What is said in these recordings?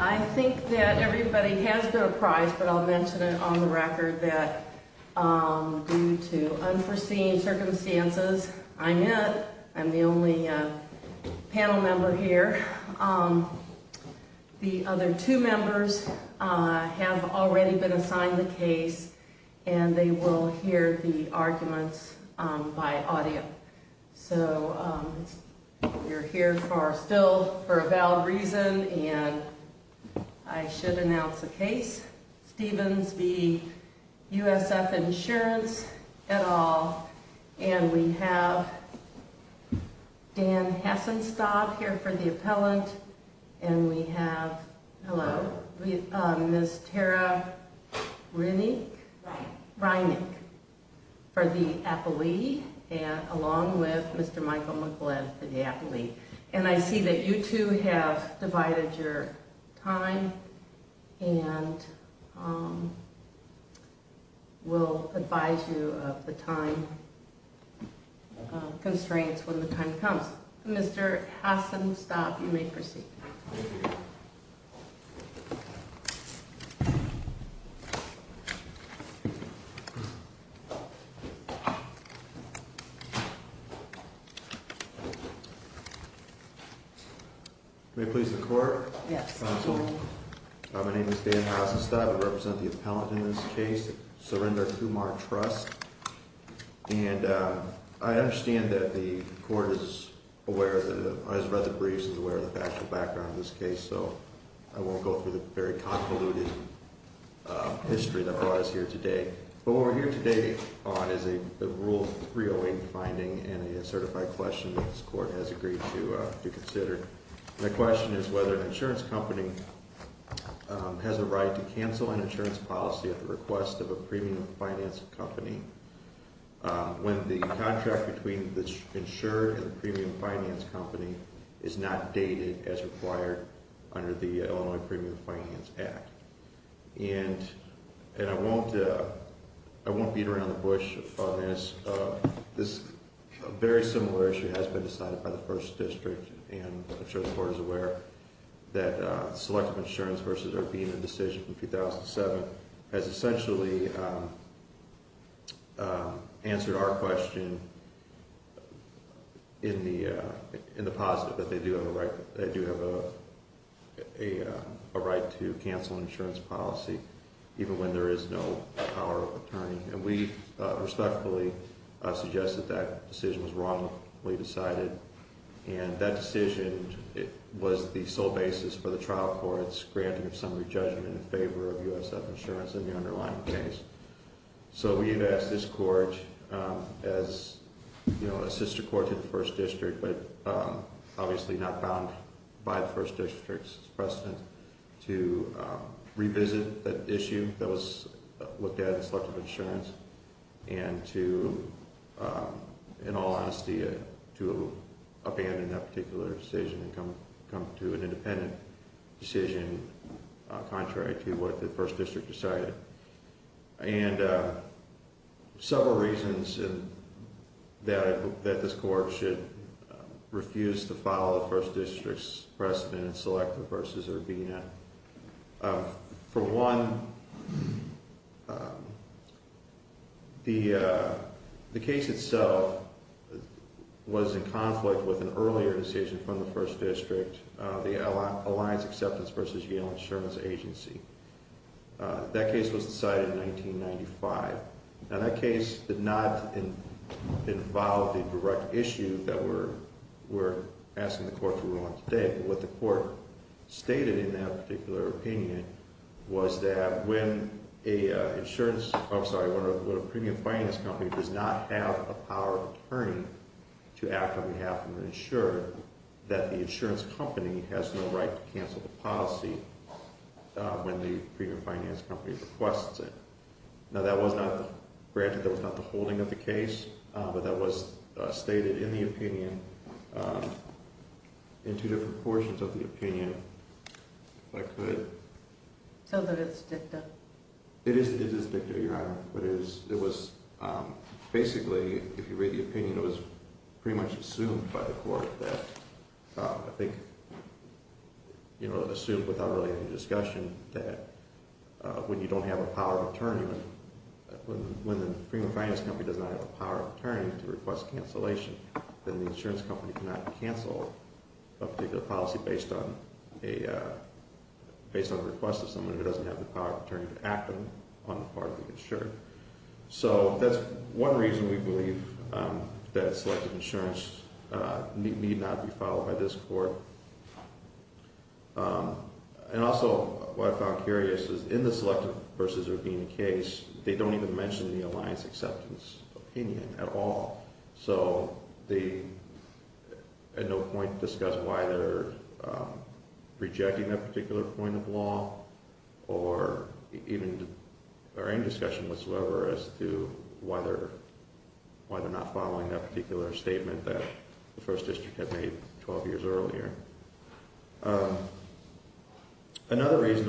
I think that everybody has been apprised, but I'll mention it on the record that due to unforeseen circumstances, I'm it. I'm the only panel member here. The other two members have already been assigned the case and they will hear the arguments by audio. So you're here for still for a valid reason. And I should announce a case Stevens v. USF Insurance at all. And we have Dan Hassan stop here for the appellant. And we have Hello, Miss Tara. Really? Right. Right. For the appellee and along with Mr. Michael McLeod, the appellee, and I see that you two have divided your time and. We'll advise you of the time. Constraints when the time comes, Mr. Hassan stop, you may proceed. May please the court. Yes. My name is Dan. I won't go through the very convoluted history that brought us here today. But what we're here today on is a rule 308 finding and a certified question that this court has agreed to consider. My question is whether an insurance company has a right to cancel an insurance policy at the request of a premium finance company. When the contract between the insured and the premium finance company is not dated as required under the Illinois premium finance act. And I won't beat around the bush on this. This very similar issue has been decided by the first district. And I'm sure the court is aware that selective insurance versus being a decision in 2007 has essentially answered our question. In the positive that they do have a right to cancel an insurance policy even when there is no power of attorney. And we respectfully suggest that that decision was wrongly decided. And that decision was the sole basis for the trial court's granting of summary judgment in favor of USF insurance in the underlying case. So we've asked this court as a sister court to the first district. But obviously not bound by the first district's precedent to revisit the issue that was looked at in selective insurance. And to, in all honesty, to abandon that particular decision and come to an independent decision contrary to what the first district decided. And several reasons that this court should refuse to follow the first district's precedent in selective versus Urbina. For one, the case itself was in conflict with an earlier decision from the first district. The Alliance Acceptance versus Yale Insurance Agency. That case was decided in 1995. Now that case did not involve the direct issue that we're asking the court to rule on today. But what the court stated in that particular opinion was that when a insurance, I'm sorry, when a premium finance company does not have a power of attorney to act on behalf of an insurer, that the insurance company has no right to cancel the policy when the premium finance company requests it. Now that was not, granted that was not the holding of the case. But that was stated in the opinion, in two different portions of the opinion. If I could. So that it's dicta. It is dicta, Your Honor. But it was basically, if you read the opinion, it was pretty much assumed by the court that, I think, you know, assumed without really any discussion, that when you don't have a power of attorney, when the premium finance company does not have the power of attorney to request cancellation, then the insurance company cannot cancel a particular policy based on a request of someone who doesn't have the power of attorney to act on the part of the insurer. So that's one reason we believe that selective insurance need not be followed by this court. And also, what I found curious is, in the selective versus Ravina case, they don't even mention the alliance acceptance opinion at all. So they at no point discuss why they're rejecting that particular point of law, or even, or any discussion whatsoever as to why they're not following that particular statement that the First District had made 12 years earlier. Another reason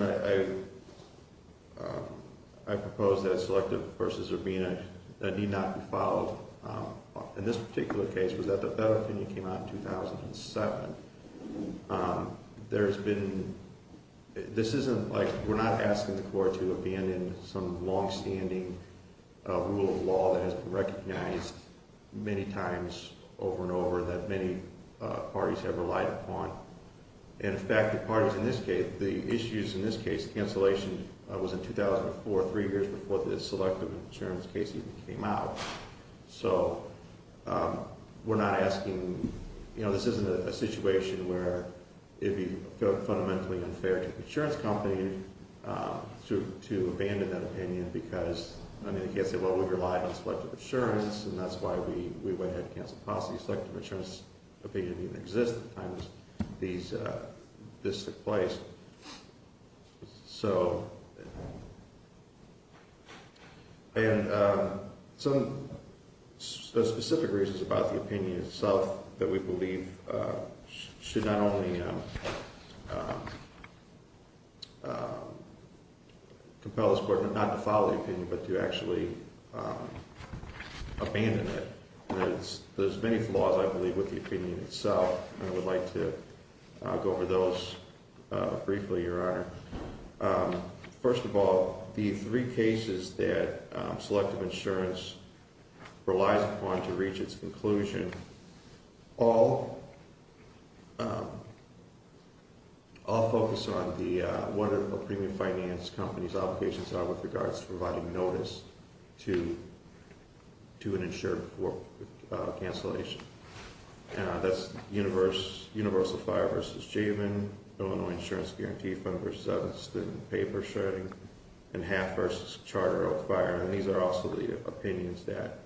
I propose that selective versus Ravina need not be followed in this particular case was that the federal opinion came out in 2007. There's been, this isn't like, we're not asking the court to abandon some longstanding rule of law that has been recognized many times over and over that many parties have relied upon. And in fact, the parties in this case, the issues in this case, cancellation was in 2004, three years before the selective insurance case even came out. So we're not asking, you know, this isn't a situation where it'd be fundamentally unfair to the insurance company to abandon that opinion because, I mean, you can't say, well, we relied on selective insurance and that's why we went ahead and canceled the policy. Selective insurance opinion didn't even exist at the time this took place. So, and some specific reasons about the opinion itself that we believe should not only compel this court not to follow the opinion but to actually abandon it. There's many flaws, I believe, with the opinion itself. I would like to go over those briefly, Your Honor. First of all, the three cases that selective insurance relies upon to reach its conclusion all focus on the wonderful premium finance company's obligations with regards to providing notice to an insured before cancellation. That's Universal Fire v. Jamin, Illinois Insurance Guarantee Fund v. Evanston, paper shredding, and Half v. Charter of Fire. And these are also the opinions that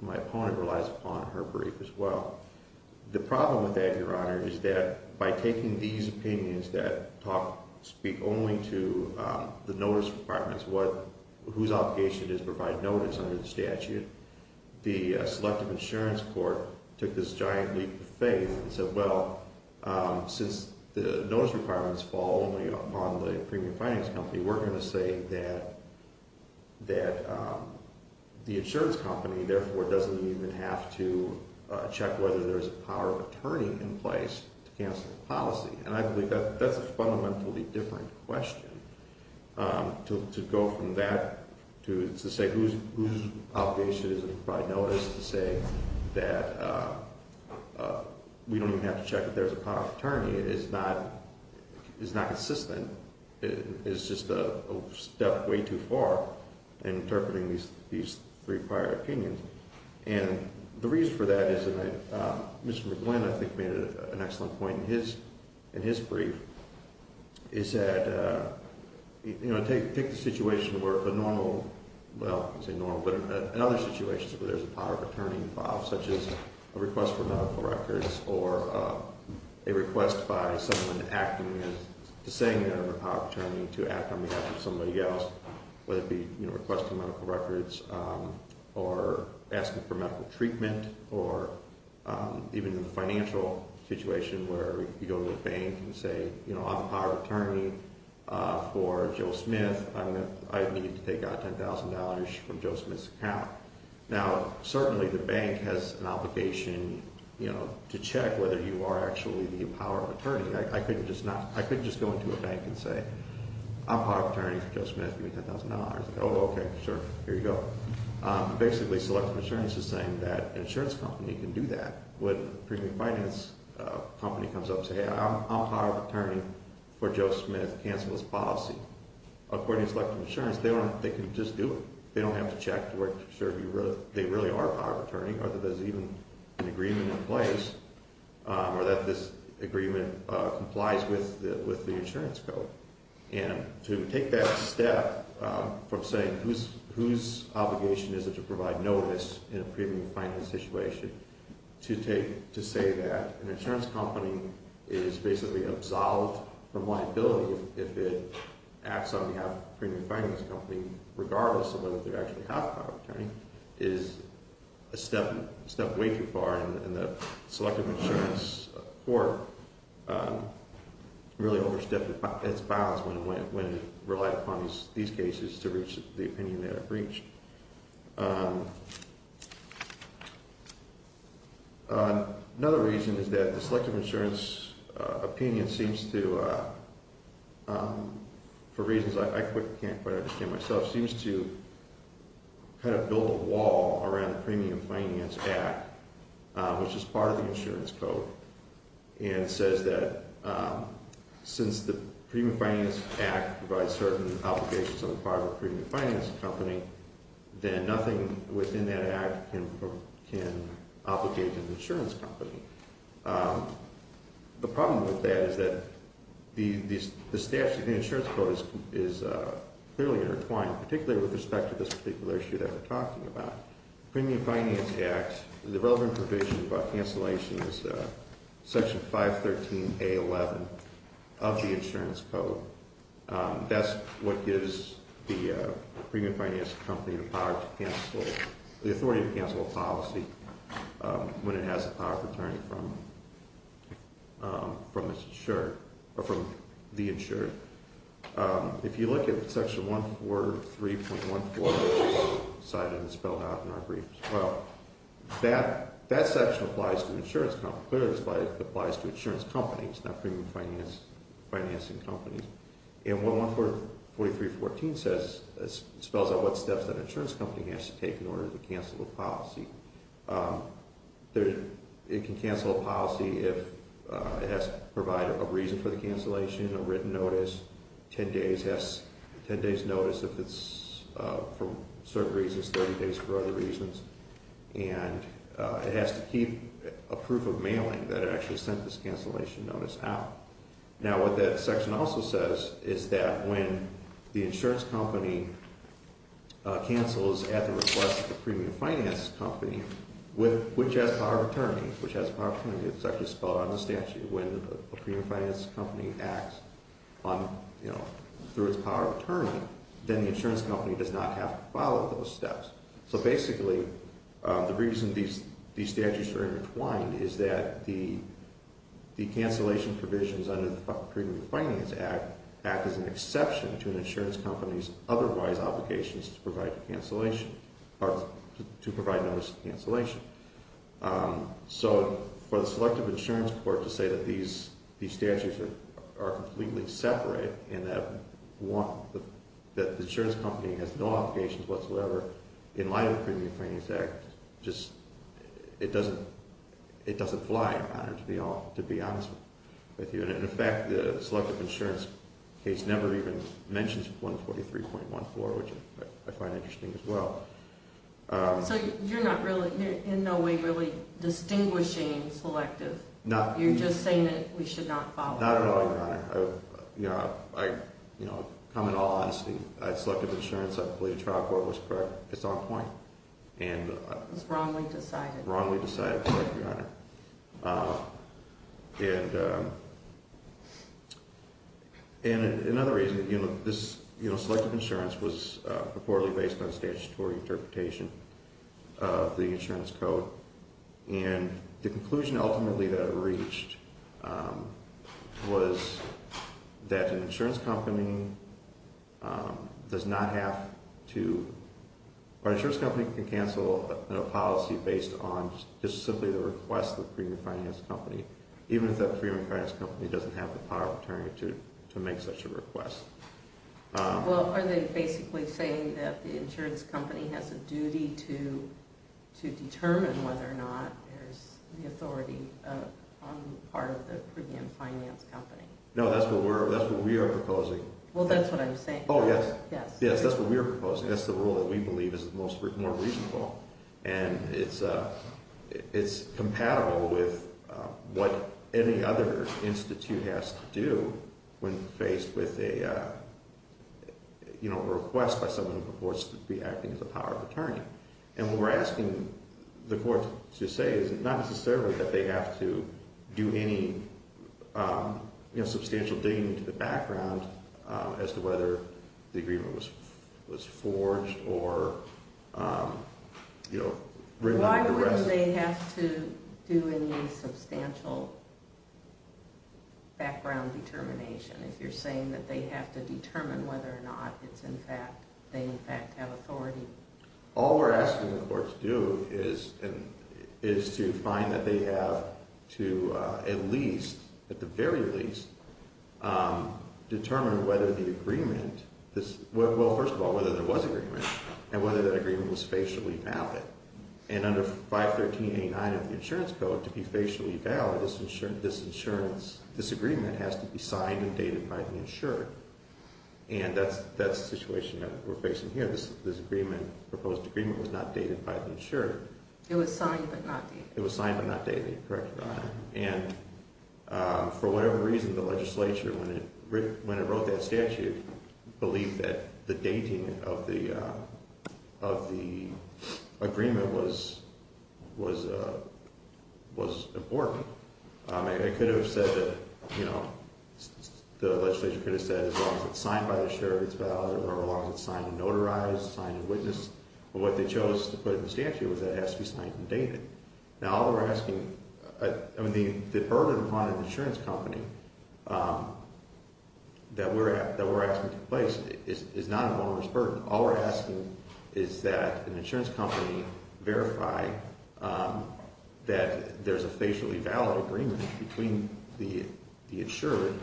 my opponent relies upon in her brief as well. The problem with that, Your Honor, is that by taking these opinions that speak only to the notice requirements, whose obligation it is to provide notice under the statute, the selective insurance court took this giant leap of faith and said, well, since the notice requirements fall only upon the premium finance company, we're going to say that the insurance company therefore doesn't even have to check whether there's a power of attorney in place to cancel the policy. And I believe that's a fundamentally different question. To go from that to say whose obligation it is to provide notice, to say that we don't even have to check if there's a power of attorney is not consistent. It's just a step way too far in interpreting these three prior opinions. And the reason for that is, Mr. McGlynn, I think, made an excellent point in his brief, is that, you know, take the situation where a normal, well, I wouldn't say normal, but in other situations where there's a power of attorney involved, such as a request for medical records or a request by someone to act on behalf of somebody else, whether it be requesting medical records or asking for medical treatment or even in the financial situation where you go to a bank and say, you know, I'm a power of attorney for Joe Smith. I need to take out $10,000 from Joe Smith's account. Now, certainly the bank has an obligation, you know, to check whether you are actually the power of attorney. I couldn't just go into a bank and say I'm a power of attorney for Joe Smith and ask for $10,000. Oh, okay, sure, here you go. Basically, Selective Insurance is saying that an insurance company can do that. When a premium finance company comes up and says, hey, I'm a power of attorney for Joe Smith, cancel this policy. According to Selective Insurance, they can just do it. They don't have to check to make sure they really are a power of attorney or that there's even an agreement in place or that this agreement complies with the insurance code. And to take that step from saying whose obligation is it to provide notice in a premium finance situation to say that an insurance company is basically absolved from liability if it acts on behalf of a premium finance company, regardless of whether they're actually a power of attorney, is a step way too far. And the Selective Insurance Court really overstepped its bounds when it relied upon these cases to reach the opinion that it reached. Another reason is that the Selective Insurance opinion seems to, for reasons I can't quite understand myself, seems to kind of build a wall around the Premium Finance Act, which is part of the insurance code, and says that since the Premium Finance Act provides certain obligations on the part of a premium finance company, then nothing within that act can obligate an insurance company. The problem with that is that the statute in the insurance code is clearly intertwined, particularly with respect to this particular issue that we're talking about. Premium Finance Act, the relevant provision about cancellation is Section 513A11 of the insurance code. That's what gives the premium finance company the authority to cancel a policy when it has a power of attorney from the insured. If you look at Section 143.14, which is cited and spelled out in our briefs, that section clearly applies to insurance companies, not premium financing companies. And what 143.14 spells out what steps that insurance company has to take in order to cancel the policy. It can cancel a policy if it has to provide a reason for the cancellation, a written notice, 10 days notice if it's for certain reasons, 30 days for other reasons. And it has to keep a proof of mailing that it actually sent this cancellation notice out. Now what that section also says is that when the insurance company cancels at the request of the premium finance company, which has power of attorney, which has power of attorney, it's actually spelled out in the statute. When the premium finance company acts through its power of attorney, then the insurance company does not have to follow those steps. So basically, the reason these statutes are intertwined is that the cancellation provisions under the Premium Finance Act act as an exception to an insurance company's otherwise obligations to provide notice of cancellation. So for the Selective Insurance Court to say that these statutes are completely separated and that the insurance company has no obligations whatsoever in light of the Premium Finance Act, it doesn't fly, to be honest with you. And in fact, the Selective Insurance case never even mentions 143.14, which I find interesting as well. So you're not really, in no way, really distinguishing selective. You're just saying that we should not follow. Not at all, Your Honor. I come in all honesty. Selective Insurance, I believe the trial court was correct. It's on point. It was wrongly decided. Wrongly decided, correct, Your Honor. And another reason, this Selective Insurance was purportedly based on statutory interpretation of the insurance code. And the conclusion ultimately that it reached was that an insurance company does not have to An insurance company can cancel a policy based on just simply the request of the premium finance company, even if that premium finance company doesn't have the power of attorney to make such a request. Well, are they basically saying that the insurance company has a duty to determine whether or not there's the authority on the part of the premium finance company? No, that's what we are proposing. Well, that's what I'm saying. Oh, yes. Yes, that's what we are proposing. That's the rule that we believe is more reasonable. And it's compatible with what any other institute has to do when faced with a request by someone who purports to be acting as a power of attorney. And what we're asking the courts to say is not necessarily that they have to do any substantial digging into the background as to whether the agreement was forged or, you know, written into the record. Why wouldn't they have to do any substantial background determination if you're saying that they have to determine whether or not it's in fact, they in fact have authority? All we're asking the courts to do is to find that they have to at least, at the very least, determine whether the agreement, well, first of all, whether there was agreement and whether that agreement was facially valid. And under 513.89 of the insurance code, to be facially valid, this insurance, this agreement has to be signed and dated by the insured. And that's the situation that we're facing here. This proposed agreement was not dated by the insured. It was signed but not dated. It was signed but not dated, correct. And for whatever reason, the legislature, when it wrote that statute, believed that the dating of the agreement was important. It could have said that, you know, the legislature could have said as long as it's signed by the insured, it's valid, or as long as it's signed and notarized, signed and witnessed. But what they chose to put in the statute was that it has to be signed and dated. Now, all we're asking, I mean, the burden upon an insurance company that we're asking to replace is not a vulnerable burden. All we're asking is that an insurance company verify that there's a facially valid agreement between the insured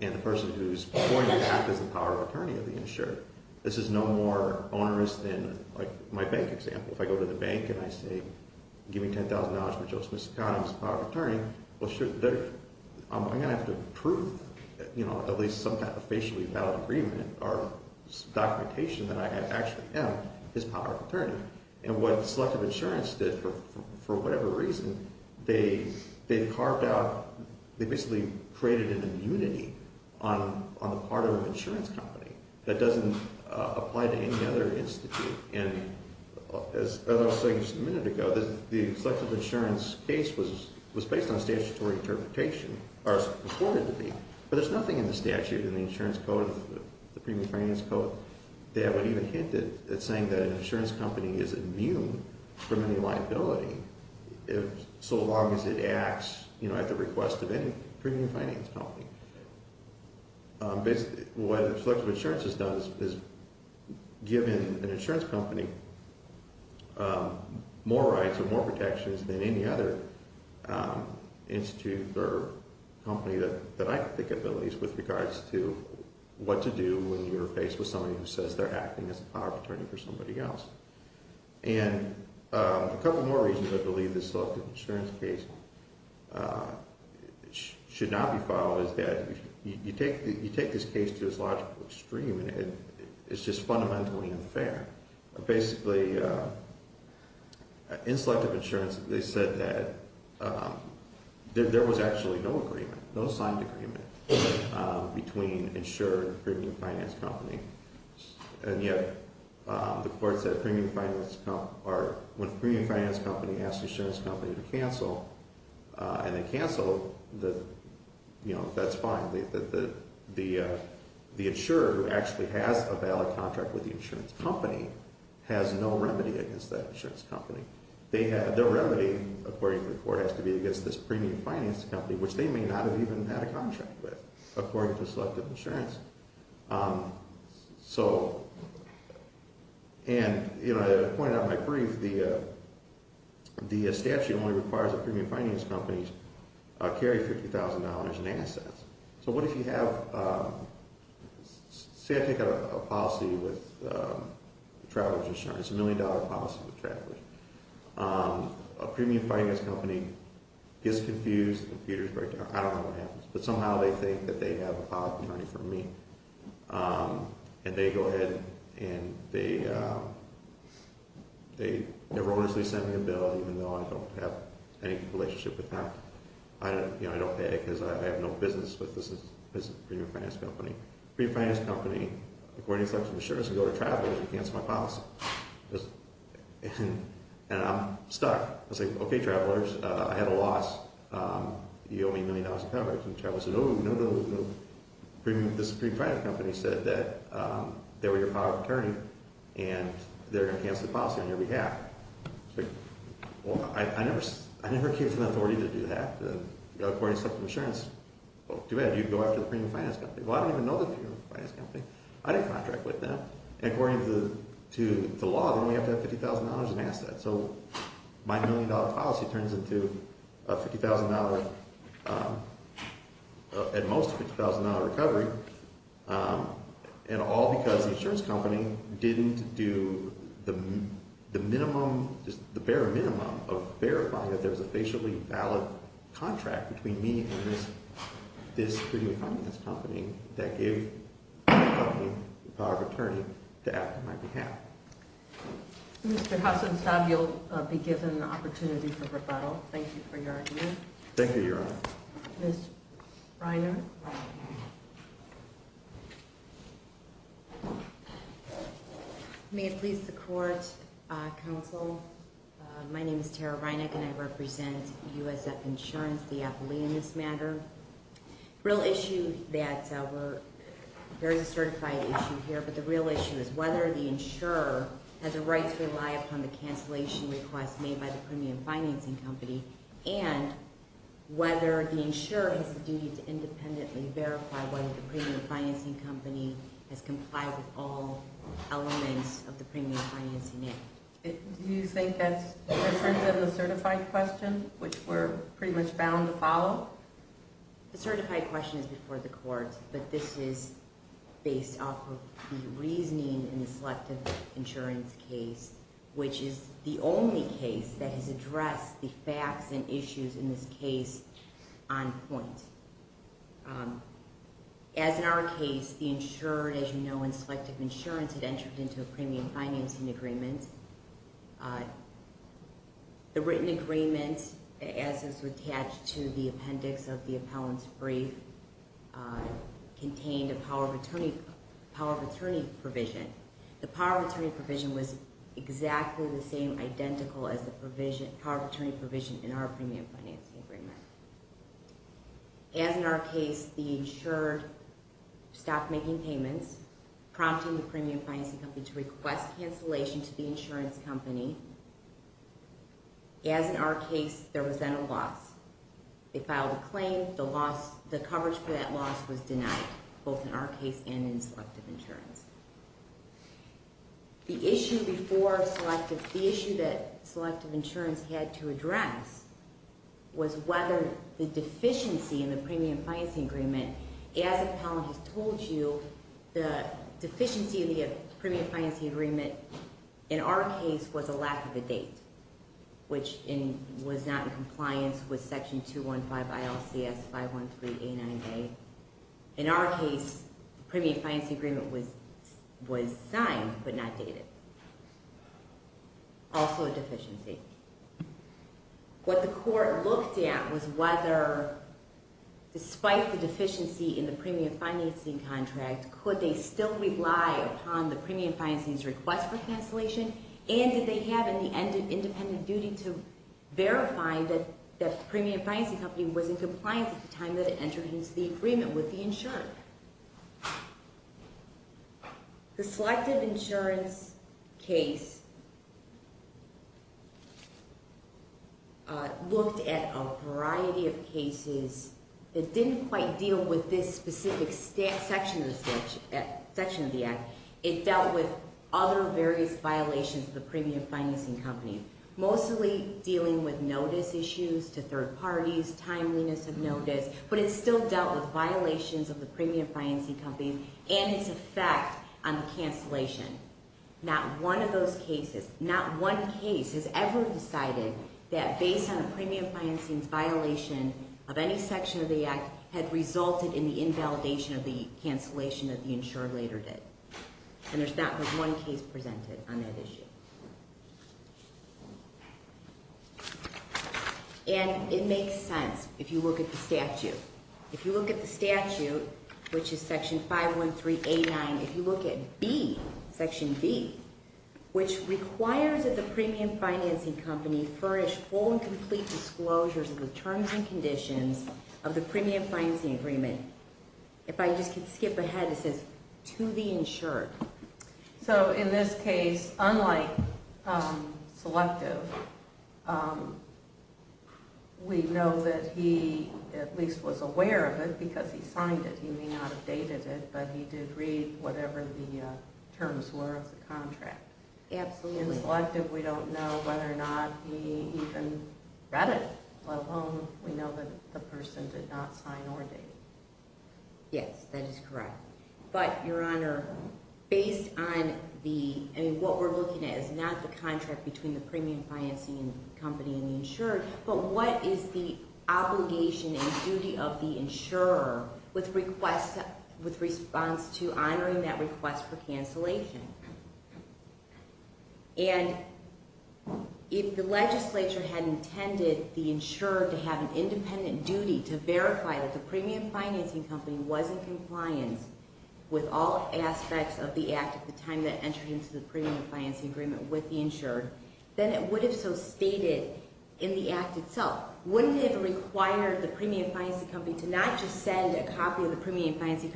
and the person who's pointed out as the power of attorney of the insured. This is no more onerous than, like, my bank example. If I go to the bank and I say, give me $10,000 for Joe Smith's economy as the power of attorney, well, sure, I'm going to have to prove, you know, at least some kind of facially valid agreement or documentation that I actually am his power of attorney. And what Selective Insurance did, for whatever reason, they carved out, they basically created an immunity on the part of an insurance company that doesn't apply to any other institute. And as I was saying just a minute ago, the Selective Insurance case was based on statutory interpretation, but there's nothing in the statute, in the insurance code, the premium finance code, they haven't even hinted at saying that an insurance company is immune from any liability, so long as it acts, you know, at the request of any premium finance company. Basically, what Selective Insurance has done is given an insurance company more rights or more protections than any other institute or company that I can think of, at least, with regards to what to do when you're faced with somebody who says they're acting as a power of attorney for somebody else. And a couple more reasons I believe the Selective Insurance case should not be filed is that you take this case to its logical extreme and it's just fundamentally unfair. Basically, in Selective Insurance, they said that there was actually no agreement, no signed agreement between insured and premium finance company. And yet, the court said premium finance company, or when premium finance company asks insurance company to cancel, and they cancel, you know, that's fine. The insurer who actually has a valid contract with the insurance company has no remedy against that insurance company. Their remedy, according to the court, has to be against this premium finance company, which they may not have even had a contract with, according to Selective Insurance. So, and, you know, I pointed out in my brief, the statute only requires that premium finance companies carry $50,000 in assets. So what if you have, say I take a policy with Travelers Insurance, a million dollar policy with Travelers. A premium finance company gets confused, the computer's right there, I don't know what happens, but somehow they think that they have a power of attorney for me. And they go ahead and they erroneously send me a bill, even though I don't have any relationship with them. You know, I don't pay because I have no business with this premium finance company. Premium finance company, according to Selective Insurance, will go to Travelers and cancel my policy. And I'm stuck. I say, okay Travelers, I had a loss, you owe me $1,000,000 in coverage. And Travelers says, oh, no, no, no. The premium finance company said that they were your power of attorney, and they're going to cancel the policy on your behalf. Well, I never came to the authority to do that, according to Selective Insurance. Too bad, you go after the premium finance company. Well, I don't even know the premium finance company. I didn't contract with them. According to the law, then we have to have $50,000 in assets. So my $1,000,000 policy turns into a $50,000, at most a $50,000 recovery. And all because the insurance company didn't do the minimum, the bare minimum of verifying that there was a facially valid contract between me and this premium finance company that gave my company the power of attorney to act on my behalf. Mr. Hasenstab, you'll be given an opportunity for rebuttal. Thank you for your argument. Thank you, Your Honor. Ms. Reiner. May it please the court, counsel. My name is Tara Reineck, and I represent USF Insurance, the affilee in this matter. The real issue, there is a certified issue here, but the real issue is whether the insurer has a right to rely upon the cancellation request made by the premium financing company, and whether the insurer has the duty to independently verify whether the premium financing company has complied with all elements of the premium financing act. Do you think that's different than the certified question, which we're pretty much bound to follow? The certified question is before the court, but this is based off of the reasoning in the selective insurance case, which is the only case that has addressed the facts and issues in this case on point. As in our case, the insurer, as you know, in selective insurance, had entered into a premium financing agreement. The written agreement, as is attached to the appendix of the appellant's brief, contained a power of attorney provision. The power of attorney provision was exactly the same identical as the power of attorney provision in our premium financing agreement. As in our case, the insurer stopped making payments, prompting the premium financing company to request cancellation to the insurance company. As in our case, there was then a loss. They filed a claim. The coverage for that loss was denied, both in our case and in selective insurance. The issue before selective, the issue that selective insurance had to address was whether the deficiency in the premium financing agreement, as appellant has told you, the deficiency of the premium financing agreement in our case was a lack of a date, which was not in compliance with section 215 ILCS 513A9A. In our case, the premium financing agreement was signed but not dated. Also a deficiency. What the court looked at was whether, despite the deficiency in the premium financing contract, could they still rely upon the premium financing's request for cancellation? And did they have in the end an independent duty to verify that the premium financing company was in compliance at the time that it entered into the agreement with the insurer? The selective insurance case looked at a variety of cases that didn't quite deal with this specific section of the act. It dealt with other various violations of the premium financing company, mostly dealing with notice issues to third parties, timeliness of notice, but it still dealt with violations of the premium financing company and its effect on the cancellation. Not one of those cases, not one case has ever decided that based on a premium financing's violation of any section of the act had resulted in the invalidation of the cancellation that the insurer later did. And there's not one case presented on that issue. And it makes sense if you look at the statute. If you look at the statute, which is section 513A9, if you look at B, section B, which requires that the premium financing company furnish full and complete disclosures of the terms and conditions of the premium financing agreement. If I just could skip ahead, it says, to the insurer. So in this case, unlike selective, we know that he at least was aware of it because he signed it. He may not have dated it, but he did read whatever the terms were of the contract. Absolutely. In selective, we don't know whether or not he even read it, let alone we know that the person did not sign or date. Yes, that is correct. But, Your Honor, based on the, I mean, what we're looking at is not the contract between the premium financing company and the insurer, but what is the obligation and duty of the insurer with request, with response to honoring that request for cancellation. And if the legislature had intended the insurer to have an independent duty to verify that the premium financing company was in compliance with all aspects of the act at the time that entered into the premium financing agreement with the insured, then it would have so stated in the act itself. Wouldn't it require the premium financing company to not just send a copy of the premium financing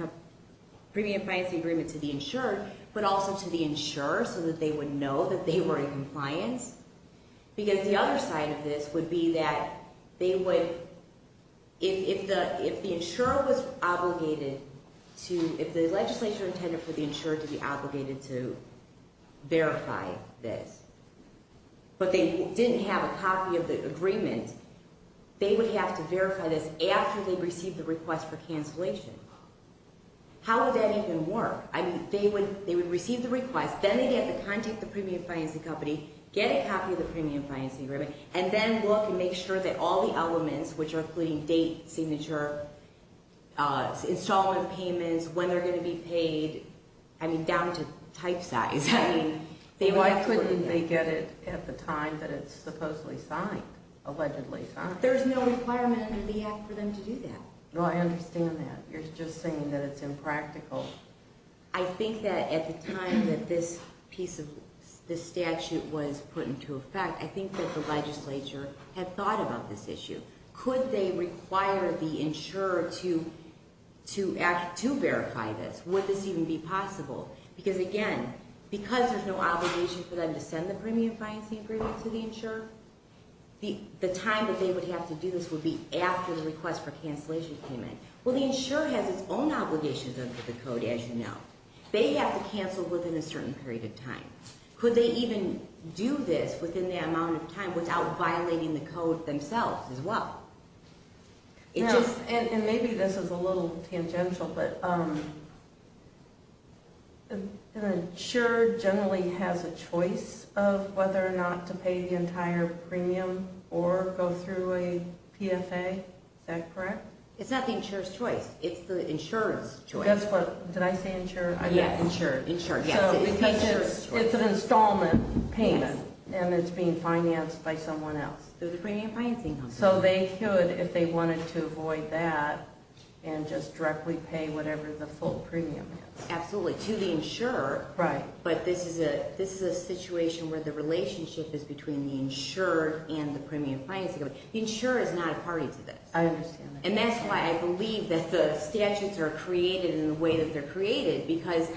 agreement to the insured, but also to the insurer so that they would know that they were in compliance? Because the other side of this would be that they would, if the insurer was obligated to, if the legislature intended for the insurer to be obligated to verify this, but they didn't have a copy of the agreement, they would have to verify this after they received the request for cancellation. How would that even work? I mean, they would receive the request. Then they'd have to contact the premium financing company, get a copy of the premium financing agreement, and then look and make sure that all the elements, which are including date, signature, installment payments, when they're going to be paid, I mean, down to type size. Why couldn't they get it at the time that it's supposedly signed, allegedly signed? There's no requirement in the act for them to do that. No, I understand that. You're just saying that it's impractical. I think that at the time that this piece of, this statute was put into effect, I think that the legislature had thought about this issue. Could they require the insurer to verify this? Would this even be possible? Because, again, because there's no obligation for them to send the premium financing agreement to the insurer, the time that they would have to do this would be after the request for cancellation came in. Well, the insurer has its own obligations under the code, as you know. They have to cancel within a certain period of time. Could they even do this within that amount of time without violating the code themselves as well? Yes, and maybe this is a little tangential, but an insurer generally has a choice of whether or not to pay the entire premium or go through a PFA. Is that correct? It's not the insurer's choice. It's the insurer's choice. Did I say insurer? Yes, insurer. Because it's an installment payment, and it's being financed by someone else. The premium financing company. So they could, if they wanted to, avoid that and just directly pay whatever the full premium is. Absolutely, to the insurer. Right. But this is a situation where the relationship is between the insurer and the premium financing company. The insurer is not a party to this. I understand that. And that's why I believe that the statutes are created in the way that they're created, because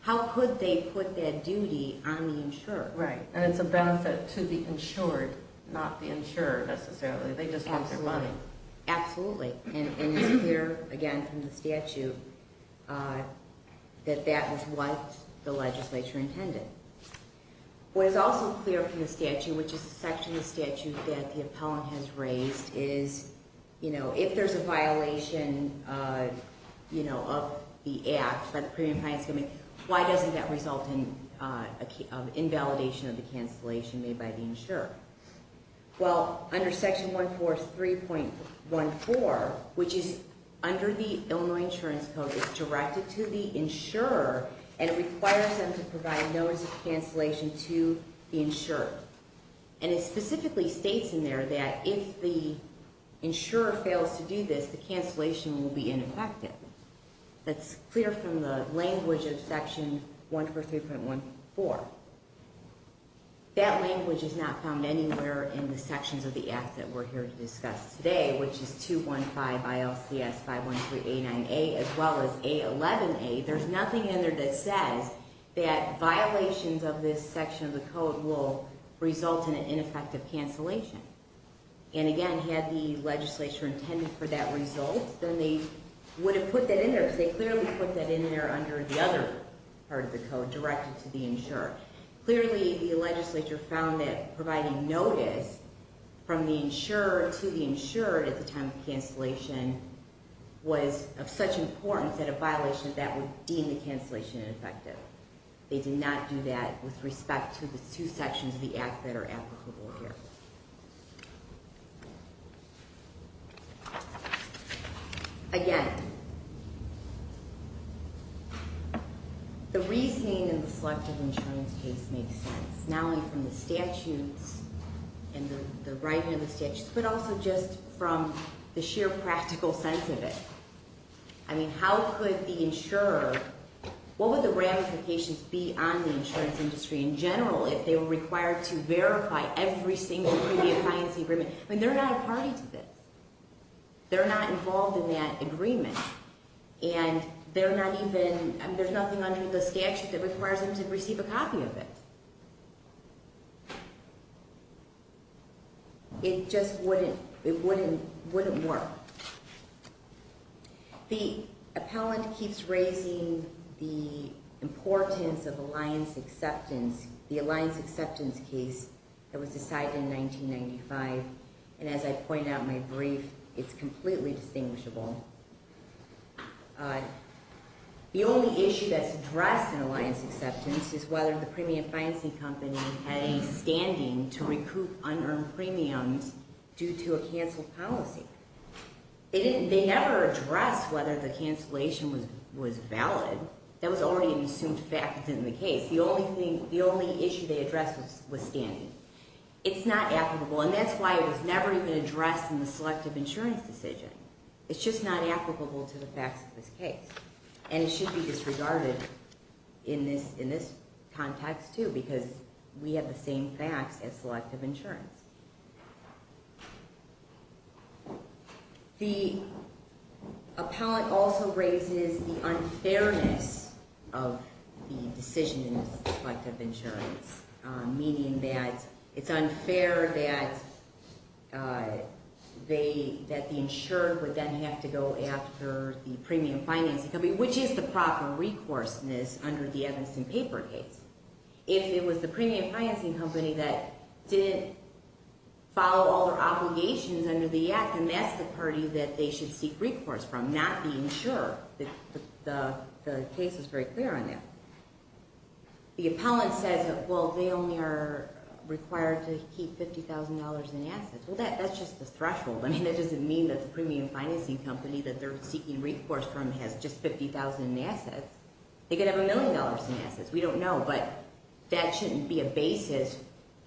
how could they put that duty on the insurer? Right, and it's a benefit to the insured, not the insured necessarily. They just want their money. Absolutely. And it's clear, again, from the statute, that that is what the legislature intended. What is also clear from the statute, which is a section of the statute that the appellant has raised, is if there's a violation of the act by the premium financing company, why doesn't that result in invalidation of the cancellation made by the insurer? Well, under Section 1.4.3.14, which is under the Illinois Insurance Code, it's directed to the insurer, and it requires them to provide notice of cancellation to the insured. And it specifically states in there that if the insurer fails to do this, the cancellation will be ineffective. That's clear from the language of Section 1.4.3.14. That language is not found anywhere in the sections of the act that we're here to discuss today, which is 2.15 ILCS 513A9A, as well as A11A. There's nothing in there that says that violations of this section of the code will result in an ineffective cancellation. And again, had the legislature intended for that result, then they would have put that in there, because they clearly put that in there under the other part of the code directed to the insurer. Clearly, the legislature found that providing notice from the insurer to the insured at the time of cancellation was of such importance that a violation of that would deem the cancellation ineffective. They did not do that with respect to the two sections of the act that are applicable here. Again, the reasoning in the selective insurance case makes sense, not only from the statutes and the writing of the statutes, but also just from the sheer practical sense of it. I mean, how could the insurer, what would the ramifications be on the insurance industry in general if they were required to verify every single previous science agreement? I mean, they're not a party to this. They're not involved in that agreement. And they're not even, I mean, there's nothing under the statute that requires them to receive a copy of it. It just wouldn't, it wouldn't work. The appellant keeps raising the importance of alliance acceptance, the alliance acceptance case that was decided in 1995. And as I point out in my brief, it's completely distinguishable. The only issue that's addressed in alliance acceptance is whether the premium financing company had a standing to recoup unearned premiums due to a canceled policy. They never addressed whether the cancellation was valid. That was already an assumed fact that's in the case. The only thing, the only issue they addressed was standing. It's not applicable, and that's why it was never even addressed in the selective insurance decision. It's just not applicable to the facts of this case. And it should be disregarded in this context, too, because we have the same facts as selective insurance. The appellant also raises the unfairness of the decision in the selective insurance, meaning that it's unfair that they, that the insured would then have to go after the premium financing company, which is the proper recourse in this, under the Evanson paper case. If it was the premium financing company that didn't follow all their obligations under the act, then that's the party that they should seek recourse from, not the insured. The case is very clear on that. The appellant says, well, they only are required to keep $50,000 in assets. Well, that's just the threshold. I mean, that doesn't mean that the premium financing company that they're seeking recourse from has just $50,000 in assets. They could have a million dollars in assets. We don't know, but that shouldn't be a basis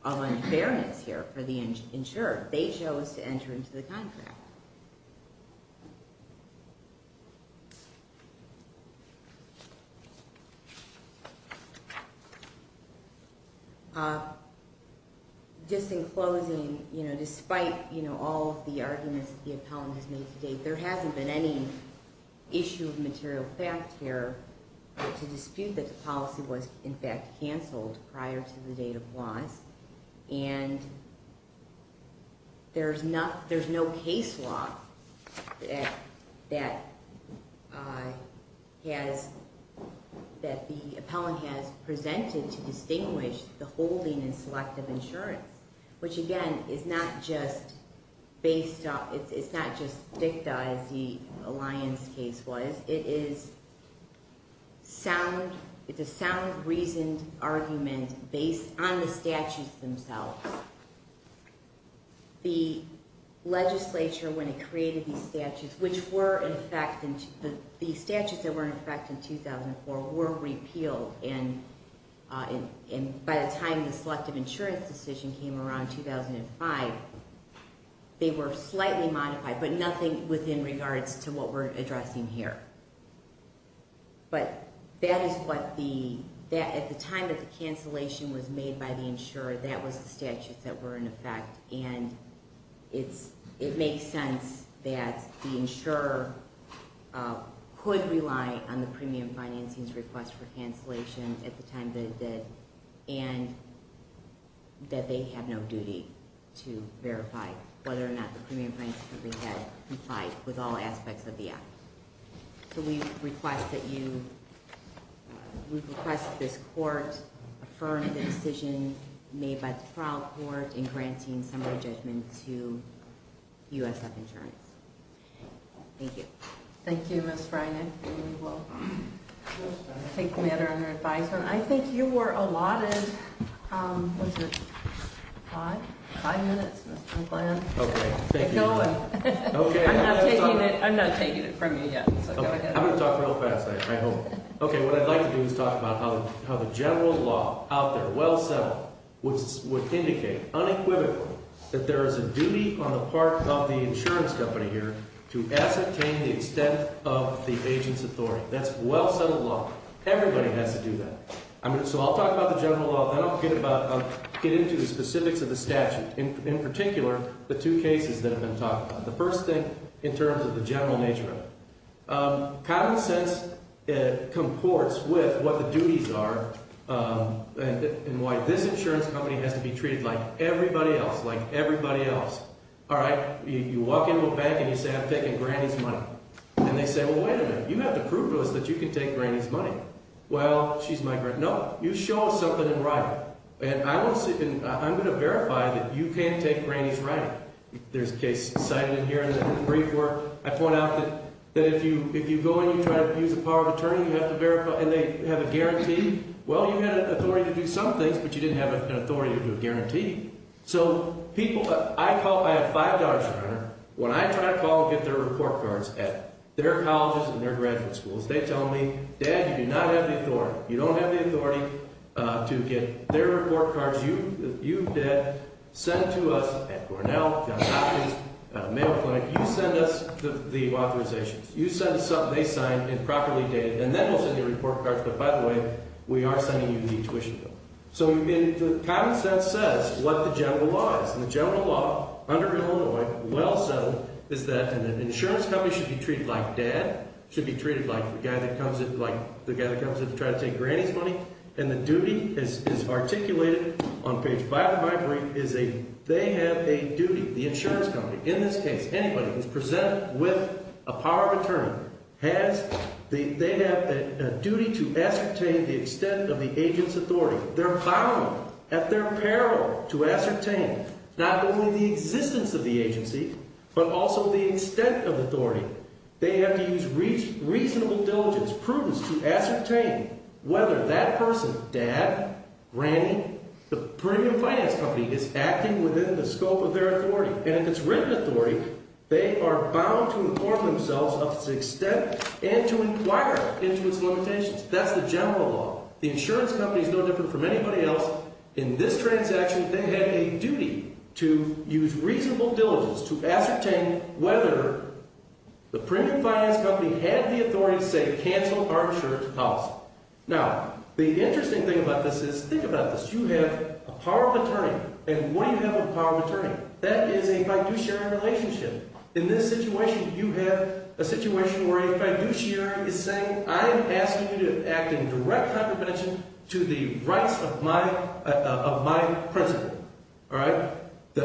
of unfairness here for the insured. They chose to enter into the contract. Just in closing, you know, despite, you know, all of the arguments that the appellant has made to date, there hasn't been any issue of material fact here to dispute that the policy was, in fact, And there's no case law that has, that the appellant has presented to distinguish the holding and selective insurance, which, again, is not just based on, it's not just dicta, as the Alliance case was. It is sound, it's a sound-reasoned argument based on the statutes themselves. The legislature, when it created these statutes, which were, in fact, the statutes that were in effect in 2004 were repealed, and by the time the selective insurance decision came around 2005, they were slightly modified, but nothing within regards to what we're addressing here. But that is what the, at the time that the cancellation was made by the insurer, that was the statutes that were in effect, and it makes sense that the insurer could rely on the premium financing's request for cancellation at the time they did, and that they have no duty to verify whether or not the premium financing has complied with all aspects of the act. So we request that you, we request that this court affirm the decision made by the trial court in granting summary judgment to USF insurance. Thank you. Thank you, Ms. Reineck, and we will take the matter under advisement. I think you were allotted, what is it, five minutes, Mr. McLean? Okay, thank you. Keep going. Okay. I'm not taking it from you yet, so go ahead. I'm going to talk real fast, I hope. Okay, what I'd like to do is talk about how the general law out there, well settled, would indicate unequivocally that there is a duty on the part of the insurance company here to ascertain the extent of the agent's authority. That's well settled law. Everybody has to do that. So I'll talk about the general law, then I'll get into the specifics of the statute. In particular, the two cases that have been talked about. The first thing in terms of the general nature of it. Common sense comports with what the duties are and why this insurance company has to be treated like everybody else, like everybody else. All right, you walk into a bank and you say, I'm taking Granny's money. And they say, well, wait a minute, you have to prove to us that you can take Granny's money. Well, she's my granny. No, you show us something in writing. And I'm going to verify that you can take Granny's writing. There's a case cited in here in the brief where I point out that if you go in and you try to abuse the power of attorney, you have to verify, and they have a guarantee. Well, you had an authority to do some things, but you didn't have an authority to do a guarantee. So people – I call – I have $5 a runner. When I try to call and get their report cards at their colleges and their graduate schools, they tell me, Dad, you do not have the authority. You don't have the authority to get their report cards. You, Dad, send to us at Cornell, Johns Hopkins, Mayo Clinic. You send us the authorizations. You send us something they signed and properly dated, and then we'll send you report cards. But by the way, we are sending you the tuition bill. So in common sense says what the general law is. And the general law under Illinois, well said, is that an insurance company should be treated like Dad, should be treated like the guy that comes in to try to take Granny's money. And the duty is articulated on page 5 of my brief is a – they have a duty, the insurance company. In this case, anybody who's presented with a power of attorney has – they have a duty to ascertain the extent of the agent's authority. They're bound at their peril to ascertain not only the existence of the agency but also the extent of authority. They have to use reasonable diligence, prudence to ascertain whether that person, Dad, Granny, the premium finance company, is acting within the scope of their authority. And if it's written authority, they are bound to inform themselves of its extent and to inquire into its limitations. That's the general law. The insurance company is no different from anybody else. In this transaction, they had a duty to use reasonable diligence to ascertain whether the premium finance company had the authority to say cancel our insurance policy. Now, the interesting thing about this is – think about this. You have a power of attorney. And what do you have with a power of attorney? That is a fiduciary relationship. In this situation, you have a situation where a fiduciary is saying I am asking you to act in direct contravention to the rights of my principle. All right?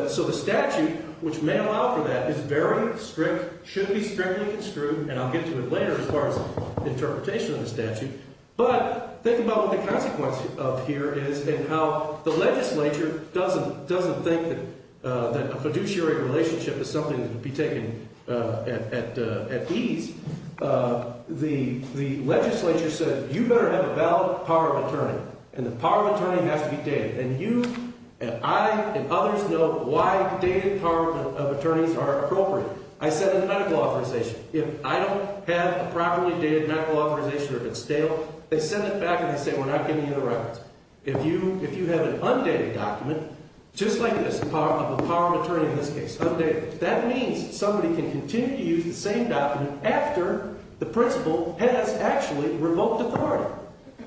So the statute, which may allow for that, is very strict, should be strictly construed, and I'll get to it later as far as interpretation of the statute. But think about what the consequence of here is and how the legislature doesn't think that a fiduciary relationship is something that would be taken at ease. The legislature said you better have a valid power of attorney, and the power of attorney has to be dated. And you and I and others know why dated power of attorneys are appropriate. I said in the medical authorization. If I don't have a properly dated medical authorization or if it's stale, they send it back and they say we're not giving you the records. If you have an undated document, just like this, a power of attorney in this case, undated, that means somebody can continue to use the same document after the principal has actually revoked authority.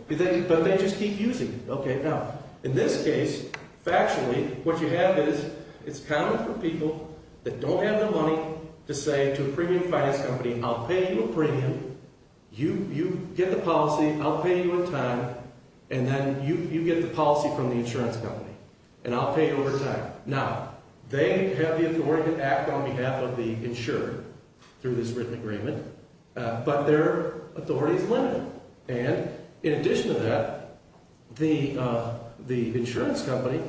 But they just keep using it. Okay, now, in this case, factually, what you have is it's common for people that don't have the money to say to a premium finance company, I'll pay you a premium, you get the policy, I'll pay you in time, and then you get the policy from the insurance company, and I'll pay you over time. Now, they have the authority to act on behalf of the insurer through this written agreement, but their authority is limited. And in addition to that, the insurance company,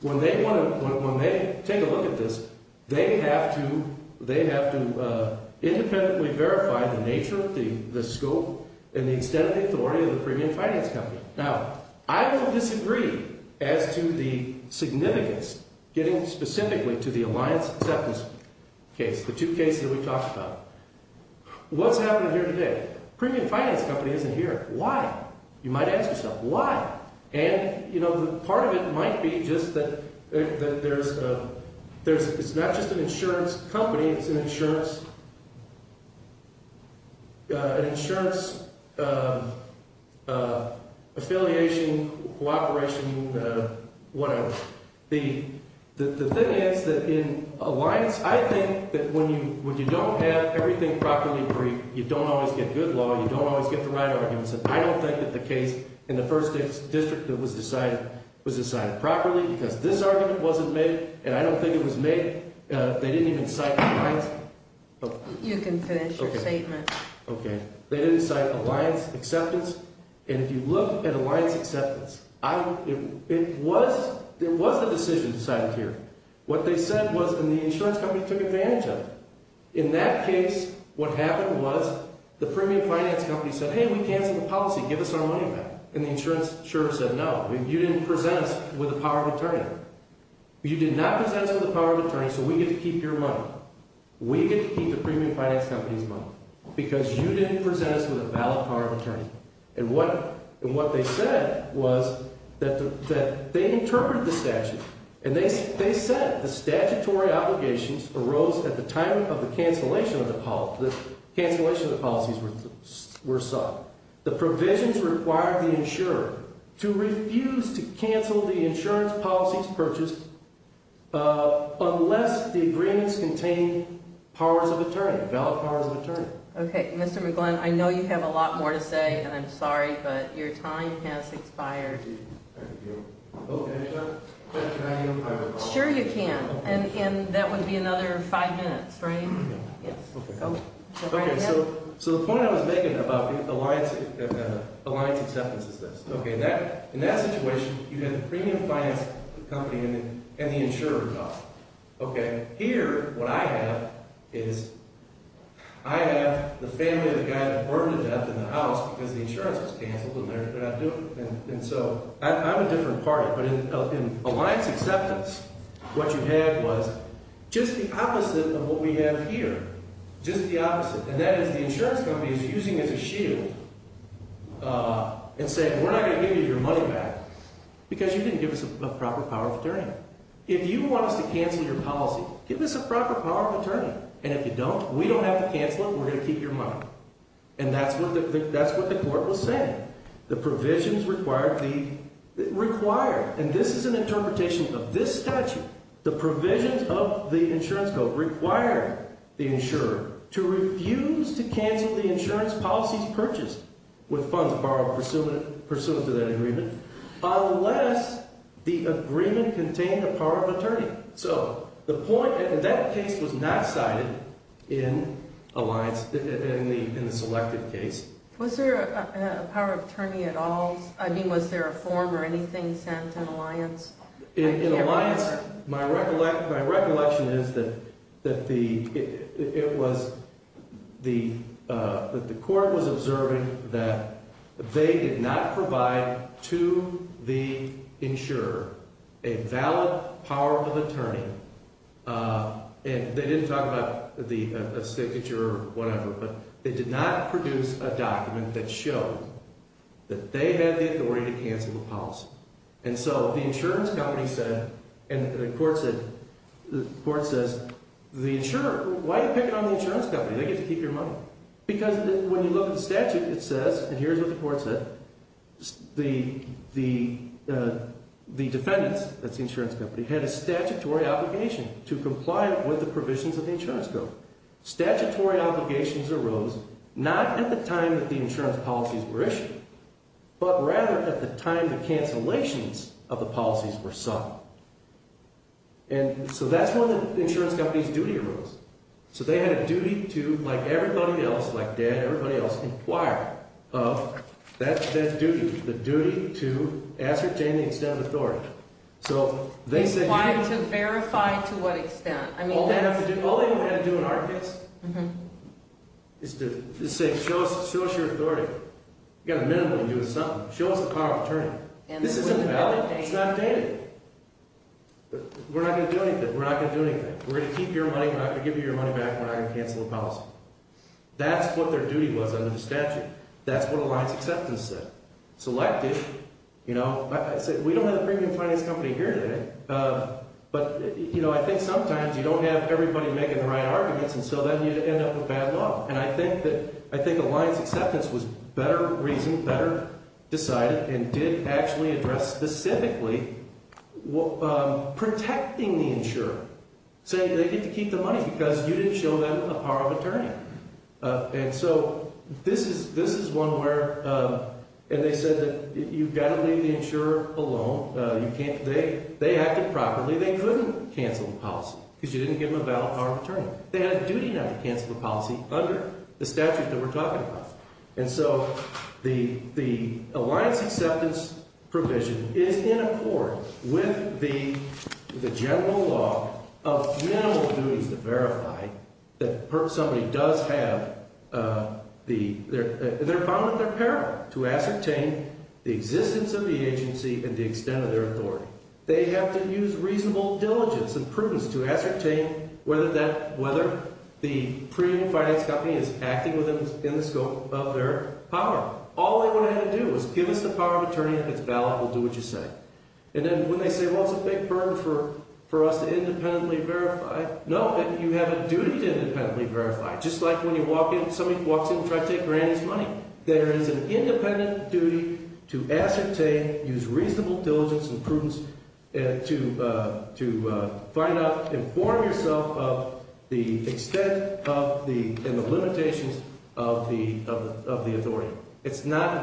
when they take a look at this, they have to independently verify the nature, the scope, and the extent of the authority of the premium finance company. Now, I will disagree as to the significance getting specifically to the alliance acceptance case, the two cases that we talked about. What's happening here today? Premium finance company isn't here. Why? You might ask yourself, why? And, you know, part of it might be just that there's a – it's not just an insurance company, it's an insurance affiliation, cooperation, whatever. The thing is that in alliance, I think that when you don't have everything properly briefed, you don't always get good law, you don't always get the right arguments. And I don't think that the case in the first district that was decided was decided properly because this argument wasn't made, and I don't think it was made. They didn't even cite alliance – You can finish your statement. Okay. They didn't cite alliance acceptance. And if you look at alliance acceptance, it was – there was a decision decided here. What they said was – and the insurance company took advantage of it. In that case, what happened was the premium finance company said, hey, we canceled the policy. Give us our money back. And the insurance sure said no. You didn't present us with the power of attorney. You did not present us with the power of attorney, so we get to keep your money. We get to keep the premium finance company's money because you didn't present us with a valid power of attorney. And what they said was that they interpreted the statute, and they said the statutory obligations arose at the time of the cancellation of the policies were sought. The provisions required the insurer to refuse to cancel the insurance policies purchased unless the agreements contained powers of attorney, valid powers of attorney. Okay. Mr. McGlenn, I know you have a lot more to say, and I'm sorry, but your time has expired. Thank you. Can I get a five-minute break? Sure, you can. And that would be another five minutes, right? Yes. Okay. So the point I was making about the alliance acceptance is this. Okay. In that situation, you had the premium finance company and the insurer involved. Okay. Here, what I have is I have the family of the guy that burned to death in the house because the insurance was canceled, and they're not doing it. And so I'm a different party. But in alliance acceptance, what you had was just the opposite of what we have here, just the opposite. And that is the insurance company is using as a shield and saying, we're not going to give you your money back because you didn't give us a proper power of attorney. If you want us to cancel your policy, give us a proper power of attorney. And if you don't, we don't have to cancel it. We're going to keep your money. And that's what the court was saying. The provisions required the required. And this is an interpretation of this statute. The provisions of the insurance code require the insurer to refuse to cancel the insurance policies purchased with funds borrowed pursuant to that agreement unless the agreement contained a power of attorney. So the point in that case was not cited in alliance, in the selective case. Was there a power of attorney at all? I mean, was there a form or anything sent in alliance? In alliance, my recollection is that the court was observing that they did not provide to the insurer a valid power of attorney. And they didn't talk about a signature or whatever, but they did not produce a document that showed that they had the authority to cancel the policy. And so the insurance company said, and the court said, the court says, the insurer, why are you picking on the insurance company? They get to keep your money. Because when you look at the statute, it says, and here's what the court said, the defendants, that's the insurance company, had a statutory obligation to comply with the provisions of the insurance code. Statutory obligations arose not at the time that the insurance policies were issued, but rather at the time the cancellations of the policies were sought. And so that's when the insurance company's duty arose. So they had a duty to, like everybody else, like Dan, everybody else, inquire of that duty. The duty to ascertain the extent of authority. So they said... Inquire to verify to what extent. All they had to do in our case is to say, show us your authority. You've got a minimum to do with something. Show us the power of attorney. This isn't valid. It's not dated. We're not going to do anything. We're not going to do anything. We're going to keep your money. I'm going to give you your money back when I can cancel the policy. That's what their duty was under the statute. That's what Alliance acceptance said. Selective, you know. I said, we don't have a freaking finance company here today. But, you know, I think sometimes you don't have everybody making the right arguments, and so then you end up with bad luck. And I think Alliance acceptance was better reasoned, better decided, and did actually address specifically protecting the insurer. Saying they get to keep the money because you didn't show them the power of attorney. And so this is one where... And they said that you've got to leave the insurer alone. They acted properly. They couldn't cancel the policy because you didn't give them a valid power of attorney. They had a duty not to cancel the policy under the statute that we're talking about. And so the Alliance acceptance provision is in accord with the general law of minimal duties to verify that somebody does have the... They're found at their peril to ascertain the existence of the agency and the extent of their authority. They have to use reasonable diligence and prudence to ascertain whether the premium finance company is acting within the scope of their power. All they would have to do is give us the power of attorney and it's valid. We'll do what you say. And then when they say, well, it's a big burden for us to independently verify. No, you have a duty to independently verify. Just like when you walk in, somebody walks in and tries to take granny's money. There is an independent duty to ascertain, use reasonable diligence and prudence to find out, inform yourself of the extent and the limitations of the authority. It's not that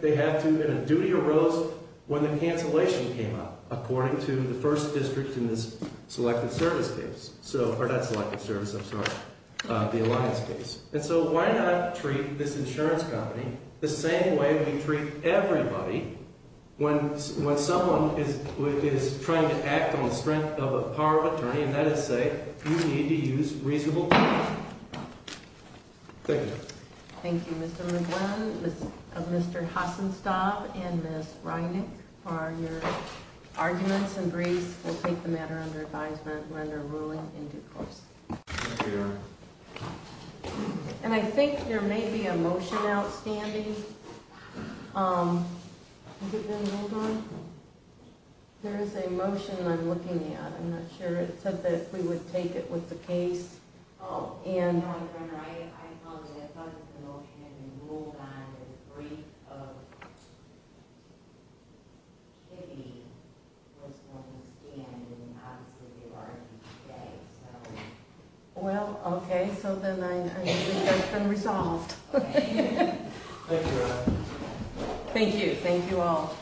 they have to. And a duty arose when the cancellation came up, according to the first district in this selected service case. Or not selected service, I'm sorry. The Alliance case. And so why not treat this insurance company the same way we treat everybody when someone is trying to act on the strength of the power of attorney and that is say, you need to use reasonable diligence. Thank you. Thank you, Mr. McGlynn. Mr. Hasenstab and Ms. Reinick for your arguments and briefs. We'll take the matter under advisement and render a ruling in due course. And I think there may be a motion outstanding. There is a motion I'm looking at. I'm not sure it said that we would take it with the case. Well, okay. So then I think that's been resolved. Thank you. Thank you all.